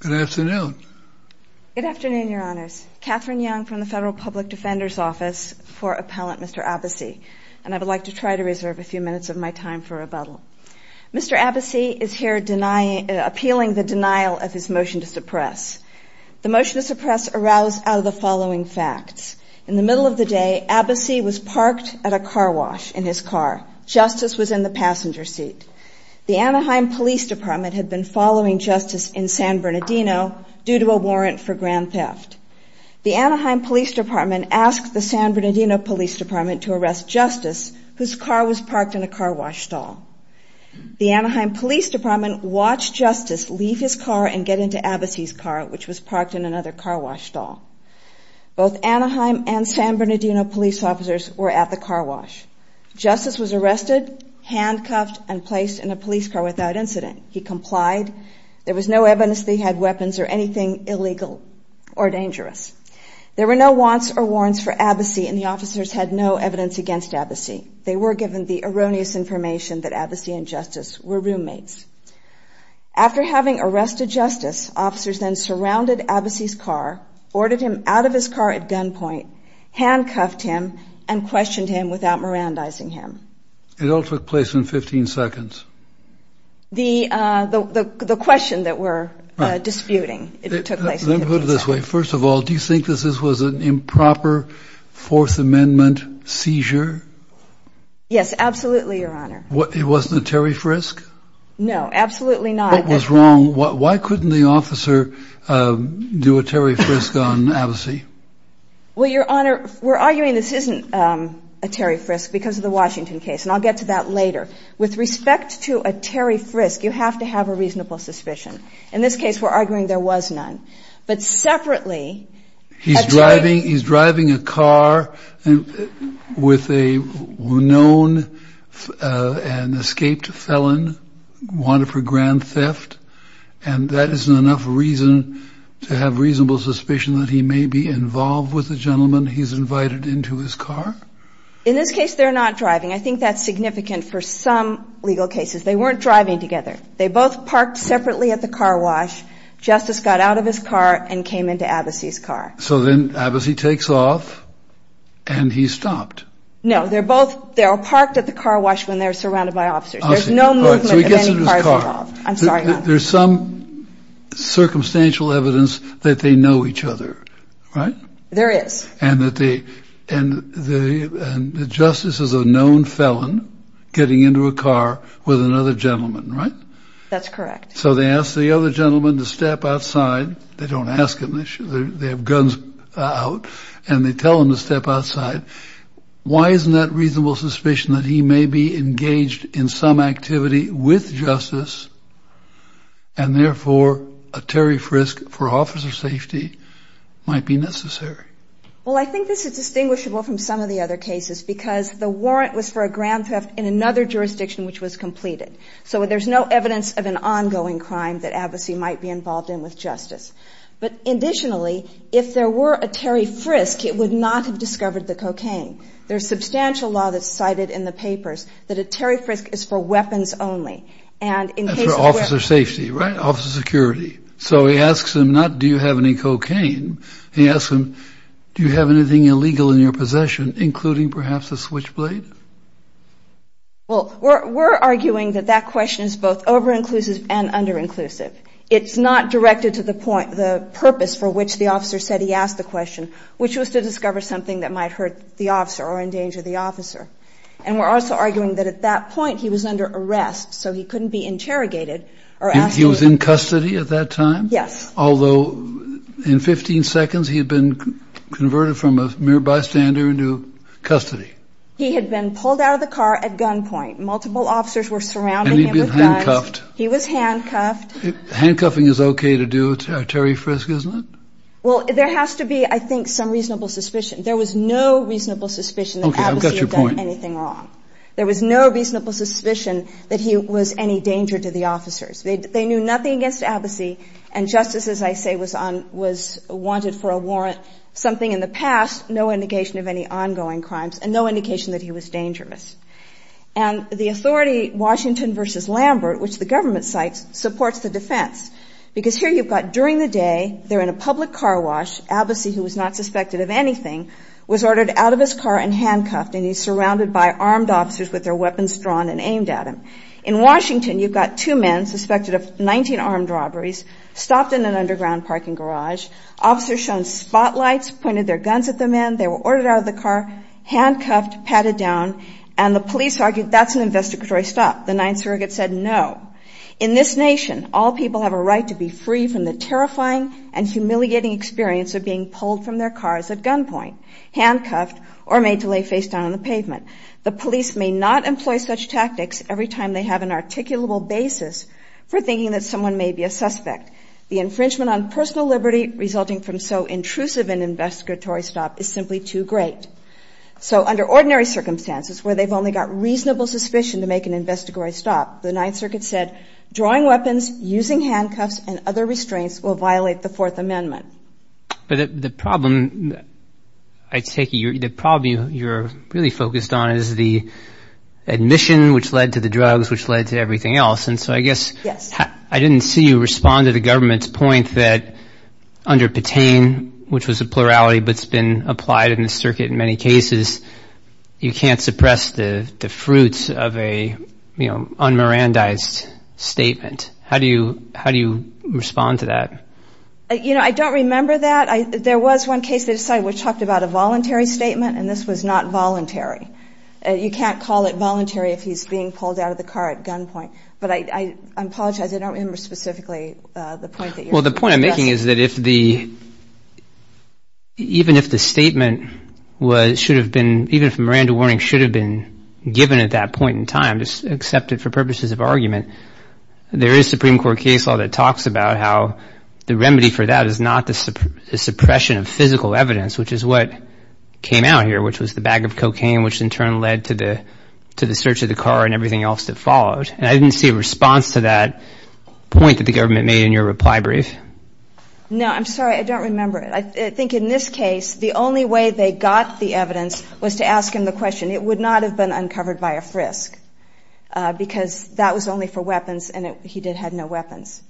Good afternoon. Good afternoon, Your Honors. Katherine Young from the Federal Public Defender's Office for Appellant Mr. Abbassi, and I would like to try to reserve a few minutes of my time for rebuttal. Mr. Abbassi is here appealing the denial of his motion to suppress. The was parked at a car wash in his car. Justice was in the passenger seat. The Anaheim Police Department had been following Justice in San Bernardino due to a warrant for grand theft. The Anaheim Police Department asked the San Bernardino Police Department to arrest Justice whose car was parked in a car wash stall. The Anaheim Police Department watched Justice leave his car and get into Abbassi's car which was parked in another car wash stall. Both Anaheim and San Bernardino police officers were at the car wash. Justice was arrested, handcuffed, and placed in a police car without incident. He complied. There was no evidence that he had weapons or anything illegal or dangerous. There were no wants or warrants for Abbassi and the officers had no evidence against Abbassi. They were given the erroneous information that Abbassi and Justice were roommates. After having arrested Justice, officers then surrounded Abbassi's car, boarded him out of his car at gunpoint, handcuffed him, and questioned him without Mirandizing him. It all took place in 15 seconds. The question that we're disputing, it took place in 15 seconds. Let me put it this way. First of all, do you think that this was an improper Fourth Amendment seizure? Yes, absolutely your honor. It wasn't a Terry Frisk? No, absolutely not. What was wrong? Why couldn't the officer do a Terry Frisk on Abbassi? Well your honor, we're arguing this isn't a Terry Frisk because of the Washington case and I'll get to that later. With respect to a Terry Frisk, you have to have a reasonable suspicion. In this case, we're arguing there was none. But separately... He's driving, he's driving a car with a well-known, well-known, well-known and escaped felon, wanted for grand theft, and that isn't enough reason to have reasonable suspicion that he may be involved with the gentleman he's invited into his car? In this case, they're not driving. I think that's significant for some legal cases. They weren't driving together. They both parked separately at the car wash. Justice got out of his car and came into Abbassi's car. So then Abbassi takes off and he's stopped? No, they're both, they're parked at the car wash when they're surrounded by officers. There's no movement of any cars at all. I'm sorry. There's some circumstantial evidence that they know each other, right? There is. And that they, and the justice is a known felon getting into a car with another gentleman, right? That's correct. So they ask the other gentleman to step outside. They don't ask him, they have guns out and they tell him to step outside. Why isn't that reasonable suspicion that he may be engaged in some activity with justice and therefore a Terry Frisk for officer safety might be necessary? Well, I think this is distinguishable from some of the other cases because the warrant was for a grand theft in another jurisdiction which was completed. So there's no evidence of an ongoing crime that Abbassi might be involved in with justice. But additionally, if there were a Terry Frisk, it would not have discovered the cocaine. There's substantial law that's cited in the papers that a Terry Frisk is for weapons only. That's for officer safety, right? Officer security. So he asks him not, do you have any cocaine? He asks him, do you have anything illegal in your possession, including perhaps a switchblade? Well, we're arguing that that question is both over-inclusive and under-inclusive. It's not directed to the point, the purpose for which the officer said he asked the question, which was to discover something that might hurt the officer or endanger the officer. And we're also arguing that at that point he was under arrest, so he couldn't be interrogated or asked. He was in custody at that time? Yes. Although in 15 seconds, he had been converted from a mere bystander into custody. He had been pulled out of the car at gunpoint. Multiple officers were surrounding him with guns. And handcuffing is okay to do, Terry Frisk, isn't it? Well, there has to be, I think, some reasonable suspicion. There was no reasonable suspicion that Abbasi had done anything wrong. Okay, I've got your point. There was no reasonable suspicion that he was any danger to the officers. They knew nothing against Abbasi, and justice, as I say, was on, was wanted for a warrant, something in the past, no indication of any ongoing crimes, and no indication that he was dangerous. And the authority, Washington v. Lambert, which the because here you've got during the day, they're in a public car wash, Abbasi, who was not suspected of anything, was ordered out of his car and handcuffed, and he's surrounded by armed officers with their weapons drawn and aimed at him. In Washington, you've got two men suspected of 19 armed robberies, stopped in an underground parking garage, officers shone spotlights, pointed their guns at the men, they were ordered out of the car, handcuffed, patted down, and the police argued that's an investigatory stop. The Ninth Surrogate said no. In this nation, all people have a right to be free from the terrifying and humiliating experience of being pulled from their cars at gunpoint, handcuffed, or made to lay face down on the pavement. The police may not employ such tactics every time they have an articulable basis for thinking that someone may be a suspect. The infringement on personal liberty resulting from so intrusive an investigatory stop is simply too great. So under ordinary circumstances where they've only got reasonable suspicion to make an investigatory stop, the Ninth Circuit said drawing weapons, using handcuffs, and other restraints will violate the Fourth Amendment. But the problem, I take it, the problem you're really focused on is the admission which led to the drugs, which led to everything else, and so I guess I didn't see you respond to the government's point that under Patain, which was a plurality but's been applied in the Ninth Circuit in many cases, you can't suppress the fruits of an un-Mirandized statement. How do you respond to that? You know, I don't remember that. There was one case that decided we talked about a voluntary statement and this was not voluntary. You can't call it voluntary if he's being pulled out of the car at gunpoint. But I apologize, I don't remember specifically the point that you're suggesting. Well, the point I'm making is that even if the statement should have been, even if a Miranda warning should have been given at that point in time, just accepted for purposes of argument, there is Supreme Court case law that talks about how the remedy for that is not the suppression of physical evidence, which is what came out here, which was the bag of cocaine, which in turn led to the search of the car and everything else that followed. And I didn't see a response to that point that the government made in your reply brief. No, I'm sorry, I don't remember it. I think in this case, the only way they got the evidence was to ask him the question. It would not have been uncovered by a frisk because that was only for weapons and he did have no weapons.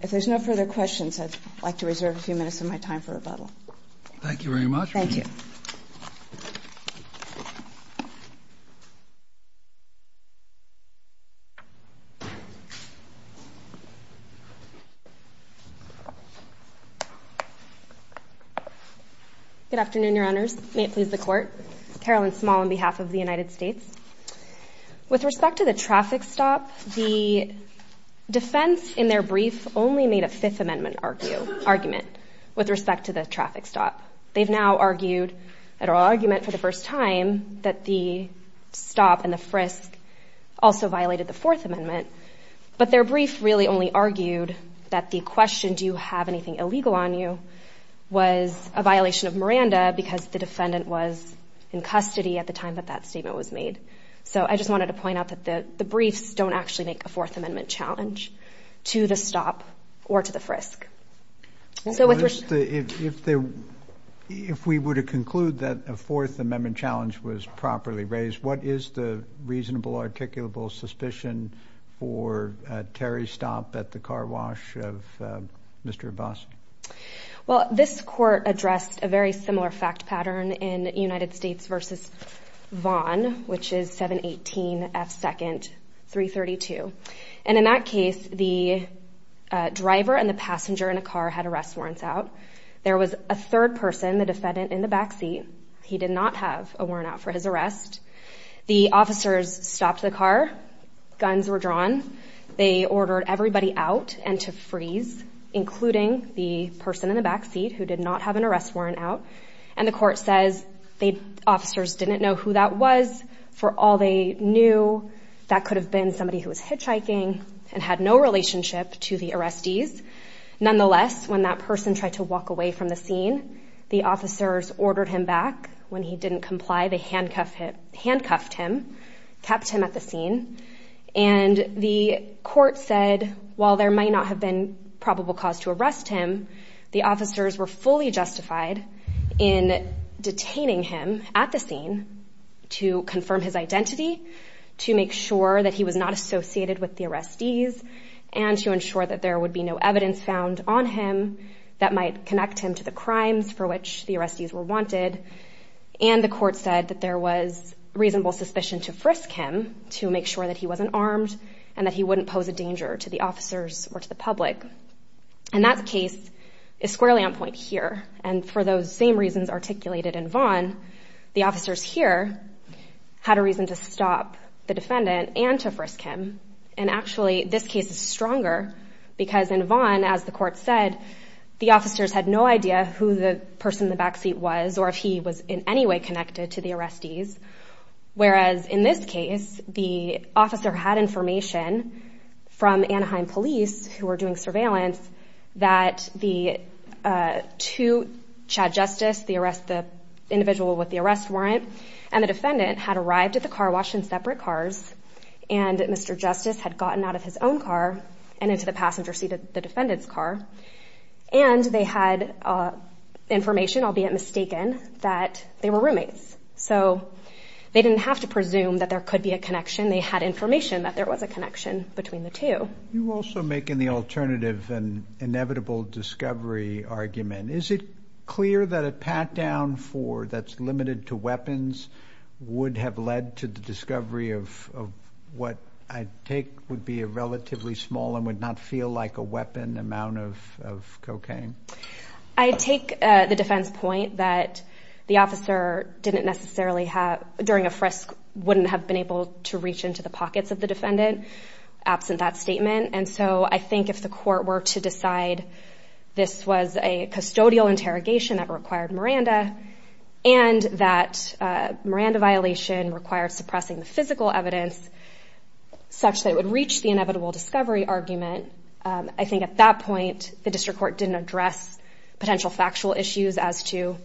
If there's no further questions, I'd like to reserve a few minutes of my time for rebuttal. Thank you very much. Thank you. Good afternoon, your honors. May it please the court. Carolyn Small on behalf of the United States. With respect to the traffic stop, the defense in their brief only made a fifth amendment argument with respect to the traffic stop. They've now argued that argument for the first time that the stop and the frisk also violated the fourth amendment, but their brief really only argued that the question, do you have anything illegal on you was a violation of Miranda because the defendant was in custody at the time that that statement was made. So I just wanted to point out that the briefs don't actually make a fourth amendment challenge to the stop or to the frisk. So if we were to conclude that a fourth amendment challenge was properly raised, what is the reasonable articulable suspicion for a Terry stop at the car wash of Mr. Abbasi? Well, this court addressed a very similar fact pattern in United States versus Vaughan, which is 718 F second 332. And in that case, the driver and the passenger in a car had arrest warrants out. There was a third person, the defendant in the backseat. He did not have a warrant out for his arrest. The officers stopped the car. Guns were drawn. They ordered everybody out and to freeze, including the person in the backseat who did not have an was for all they knew that could have been somebody who was hitchhiking and had no relationship to the arrestees. Nonetheless, when that person tried to walk away from the scene, the officers ordered him back when he didn't comply. They handcuffed him, handcuffed him, kept him at the scene. And the court said, while there might not have been probable cause to arrest him, the officers were fully justified in detaining him at the scene to confirm his identity, to make sure that he was not associated with the arrestees and to ensure that there would be no evidence found on him that might connect him to the crimes for which the arrestees were wanted. And the court said that there was reasonable suspicion to frisk him to make sure that he wasn't armed and that he wouldn't pose a danger to the officers or to the public. And that case is squarely on point here. And for those same reasons articulated in Vaughn, the officers here had a reason to stop the defendant and to frisk him. And actually, this case is stronger because in Vaughn, as the court said, the officers had no idea who the person in the backseat was or if he was in any way connected to the arrestees. Whereas in this case, the officer had information from Anaheim police who were doing surveillance that the two, Chad Justice, the arrest, the individual with the arrest warrant and the defendant had arrived at the car, washed in separate cars. And Mr. Justice had gotten out of his own car and into the passenger seat of the defendant's car. And they had information, albeit mistaken, that they were roommates. So they didn't have to presume that there could be a connection. They had information that there was a connection between the two. You also make in the alternative an inevitable discovery argument. Is it clear that a pat down for that's limited to weapons would have led to the discovery of what I take would be a relatively small and would not feel like a weapon amount of cocaine? I take the defense point that the officer didn't necessarily have during a frisk wouldn't have been able to reach into the pockets of the defendant absent that statement. And so I think if the court were to decide this was a custodial interrogation that required Miranda and that Miranda violation required suppressing the such that it would reach the inevitable discovery argument. I think at that point, the district court didn't address potential factual issues as to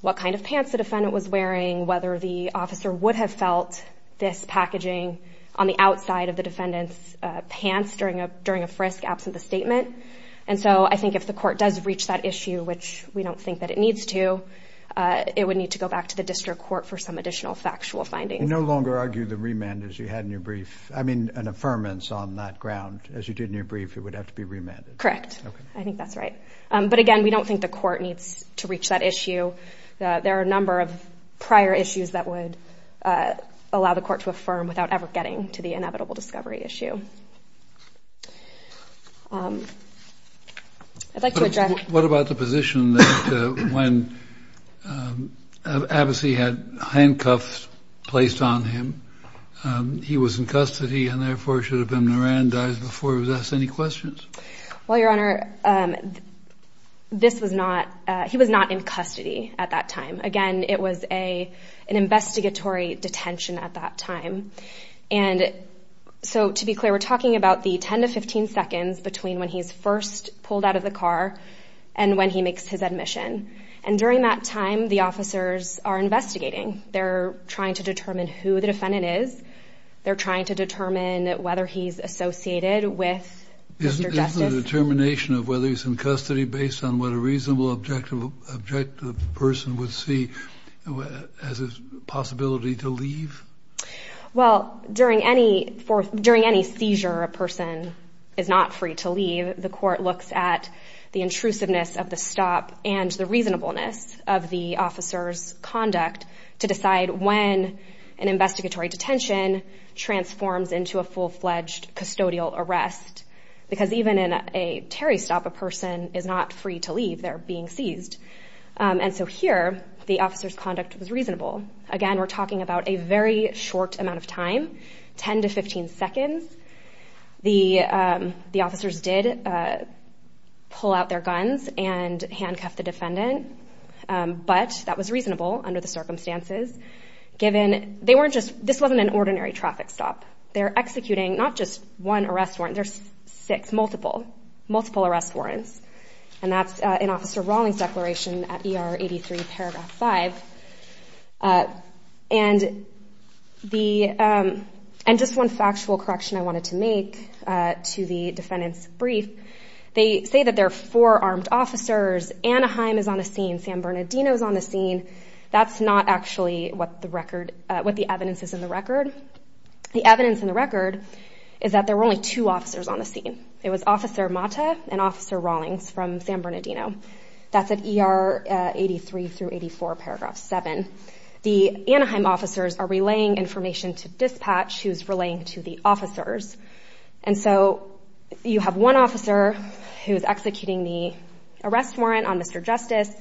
what kind of pants the defendant was wearing, whether the officer would have felt this packaging on the outside of the defendant's pants during a during a frisk absent the statement. And so I think if the court does reach that issue, which we don't think that it needs to, it would need to go back to the district court for some additional factual findings. No longer argue the remand as you had in your brief. I mean, an affirmance on that ground as you did in your brief, it would have to be remanded. Correct. I think that's right. But again, we don't think the court needs to reach that issue. There are a number of prior issues that would allow the court to affirm without ever getting to the inevitable discovery issue. I'd like to address. What about the position that when Abbasi had handcuffs placed on him, he was in custody and therefore should have been Miran dies before. Does any questions? Well, your honor, this was not he was not in custody at that time. Again, it was a an investigatory detention at that time. And so to be clear, we're talking about the 10 to 15 seconds between when he's first pulled out of the car and when he makes his admission. And during that time, the officers are investigating. They're trying to determine who the defendant is. They're trying to determine whether he's associated with the determination of whether he's in custody based on what a reasonable, objective, objective person would see as a possibility to leave. Well, during any for during any seizure, a person is not free to leave. The court looks at the intrusiveness of the stop and the reasonableness of the officer's conduct to decide when an investigatory detention transforms into a full fledged custodial arrest, because even in a Terry stop, a person is not free to leave. They're being seized. And so here the officer's conduct was reasonable. Again, we're talking about a very short amount of time, 10 to 15 seconds. The officers did pull out their guns and handcuff the defendant. But that was reasonable under the circumstances, given they weren't just this wasn't an ordinary traffic stop. They're executing not just one arrest warrant, there's six, multiple, multiple arrest warrants. And that's an officer Rawlings declaration at ER and the and just one factual correction I wanted to make to the defendant's brief. They say that there are four armed officers. Anaheim is on the scene. San Bernardino is on the scene. That's not actually what the record what the evidence is in the record. The evidence in the record is that there were only two officers on the scene. It was Officer Mata and Officer Rawlings from San Bernardino. That's at ER 83 through 84 paragraph seven. The Anaheim officers are relaying information to dispatch who's relaying to the officers. And so you have one officer who's executing the arrest warrant on Mr. Justice.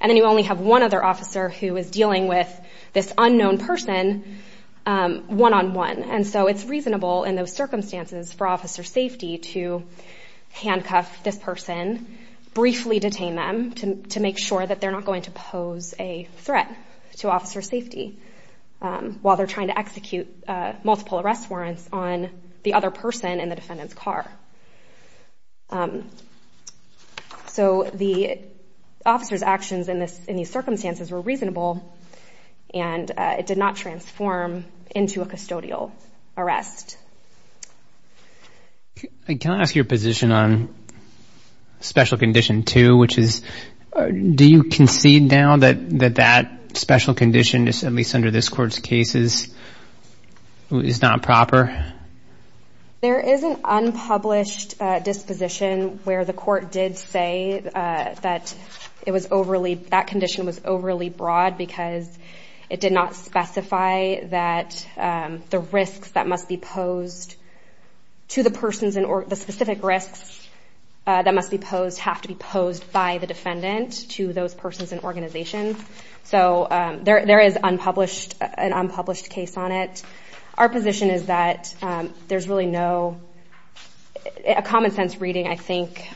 And then you only have one other officer who is dealing with this unknown person one on one. And so it's reasonable in those circumstances for officer safety to handcuff this person, briefly detain them to make sure that they're not going to pose a threat to officer safety while they're trying to execute multiple arrest warrants on the other person in the defendant's car. So the officer's actions in this in these circumstances were reasonable and it did not transform into a custodial arrest. I can't ask your position on special condition two, which is, do you concede now that that special condition is at least under this court's cases is not proper? There is an unpublished disposition where the court did say that it was overly that condition was overly broad because it did not specify that the risks that must be posed to the persons in or the specific risks that must be posed have to be posed by the defendant to those persons and organizations. So there is unpublished an unpublished case on it. Our position is that there's really no a common sense reading I think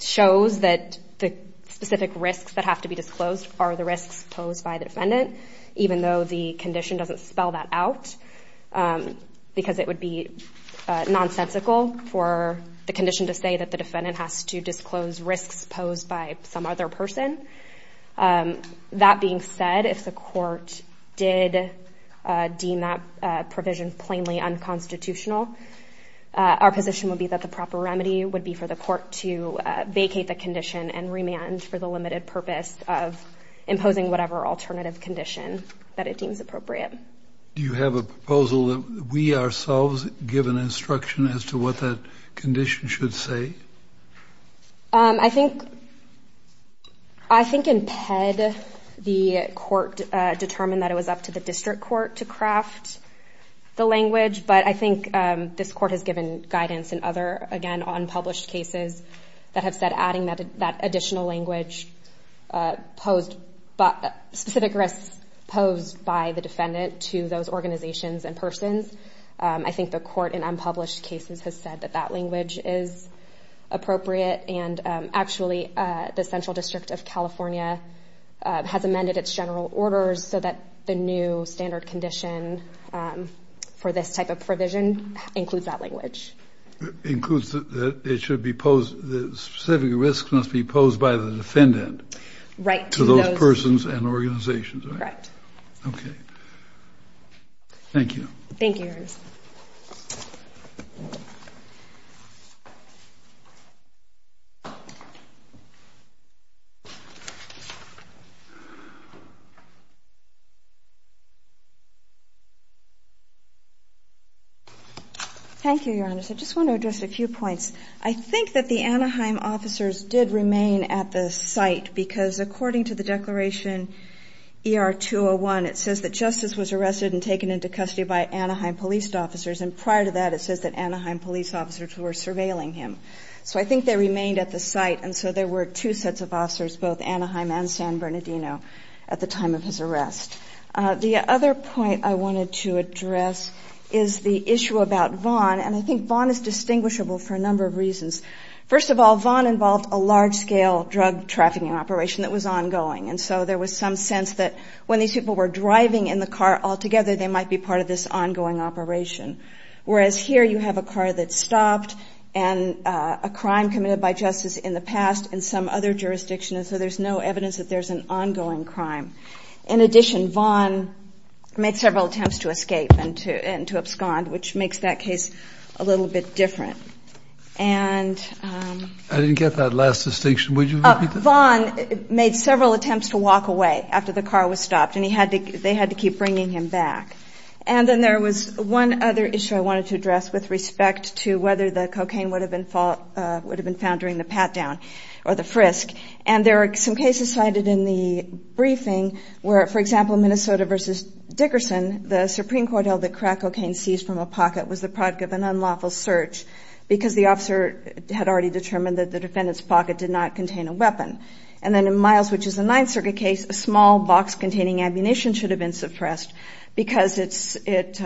shows that the specific risks that have to be disclosed are the risks posed by the defendant, even though the condition doesn't spell that out because it would be nonsensical for the condition to say that the defendant has to disclose risks posed by some other person. That being said, if the court did deem that provision plainly unconstitutional, our position would be that the proper remedy would be for the court to imposing whatever alternative condition that it deems appropriate. Do you have a proposal that we ourselves give an instruction as to what that condition should say? I think I think in PED the court determined that it was up to the district court to craft the language, but I think this court has given guidance and other again unpublished cases that have said adding that that additional language posed but specific risks posed by the defendant to those organizations and persons. I think the court in unpublished cases has said that that language is appropriate and actually the Central District of California has amended its general orders so that the new standard condition for this type of provision includes that language. Includes that it should be posed the specific risk must be posed by the defendant right to those persons and organizations, right? Okay, thank you. Thank you. I just want to address a few points. I think that the Anaheim officers did remain at the site because according to the declaration ER 201 it says that justice was arrested and taken into custody by Anaheim police officers and prior to that it says that Anaheim police officers were surveilling him. So I think they remained at the site and so there were two sets of officers both Anaheim and San Bernardino at the time of his arrest. The other point I wanted to address is the issue about Vaughn and I think Vaughn is distinguishable for a number of reasons. First of all Vaughn involved a large-scale drug trafficking operation that was ongoing and so there was some sense that when these people were driving in the car altogether they might be part of this ongoing operation. Whereas here you have a car that stopped and a crime committed by justice in the past in some other jurisdiction and so there's no evidence that there's an ongoing crime. In addition Vaughn made several attempts to escape and to abscond which makes that case a little bit different. I didn't get that last distinction. Would you repeat that? Vaughn made several attempts to walk away after the car was stopped and they had to keep bringing him back. And then there was one other issue I wanted to address with respect to whether the cocaine would have been found during the pat-down or the frisk and there are some cases cited in the briefing where for example Minnesota v. Dickerson the Supreme Court held that crack cocaine seized from a pocket was the product of an unlawful search because the officer had already determined that the defendant's pocket did not contain a weapon. And then in Miles which is a Ninth Circuit case a small box containing ammunition should have been suppressed because it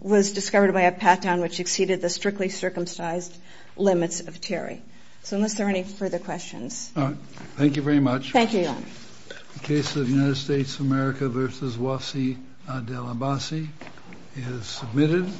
was discovered by a pat-down which exceeded the strictly circumcised limits of Terry. So unless there is a motion to adjourn the hearing the hearing of the United States of America v. Wasi Adel Abassi is submitted.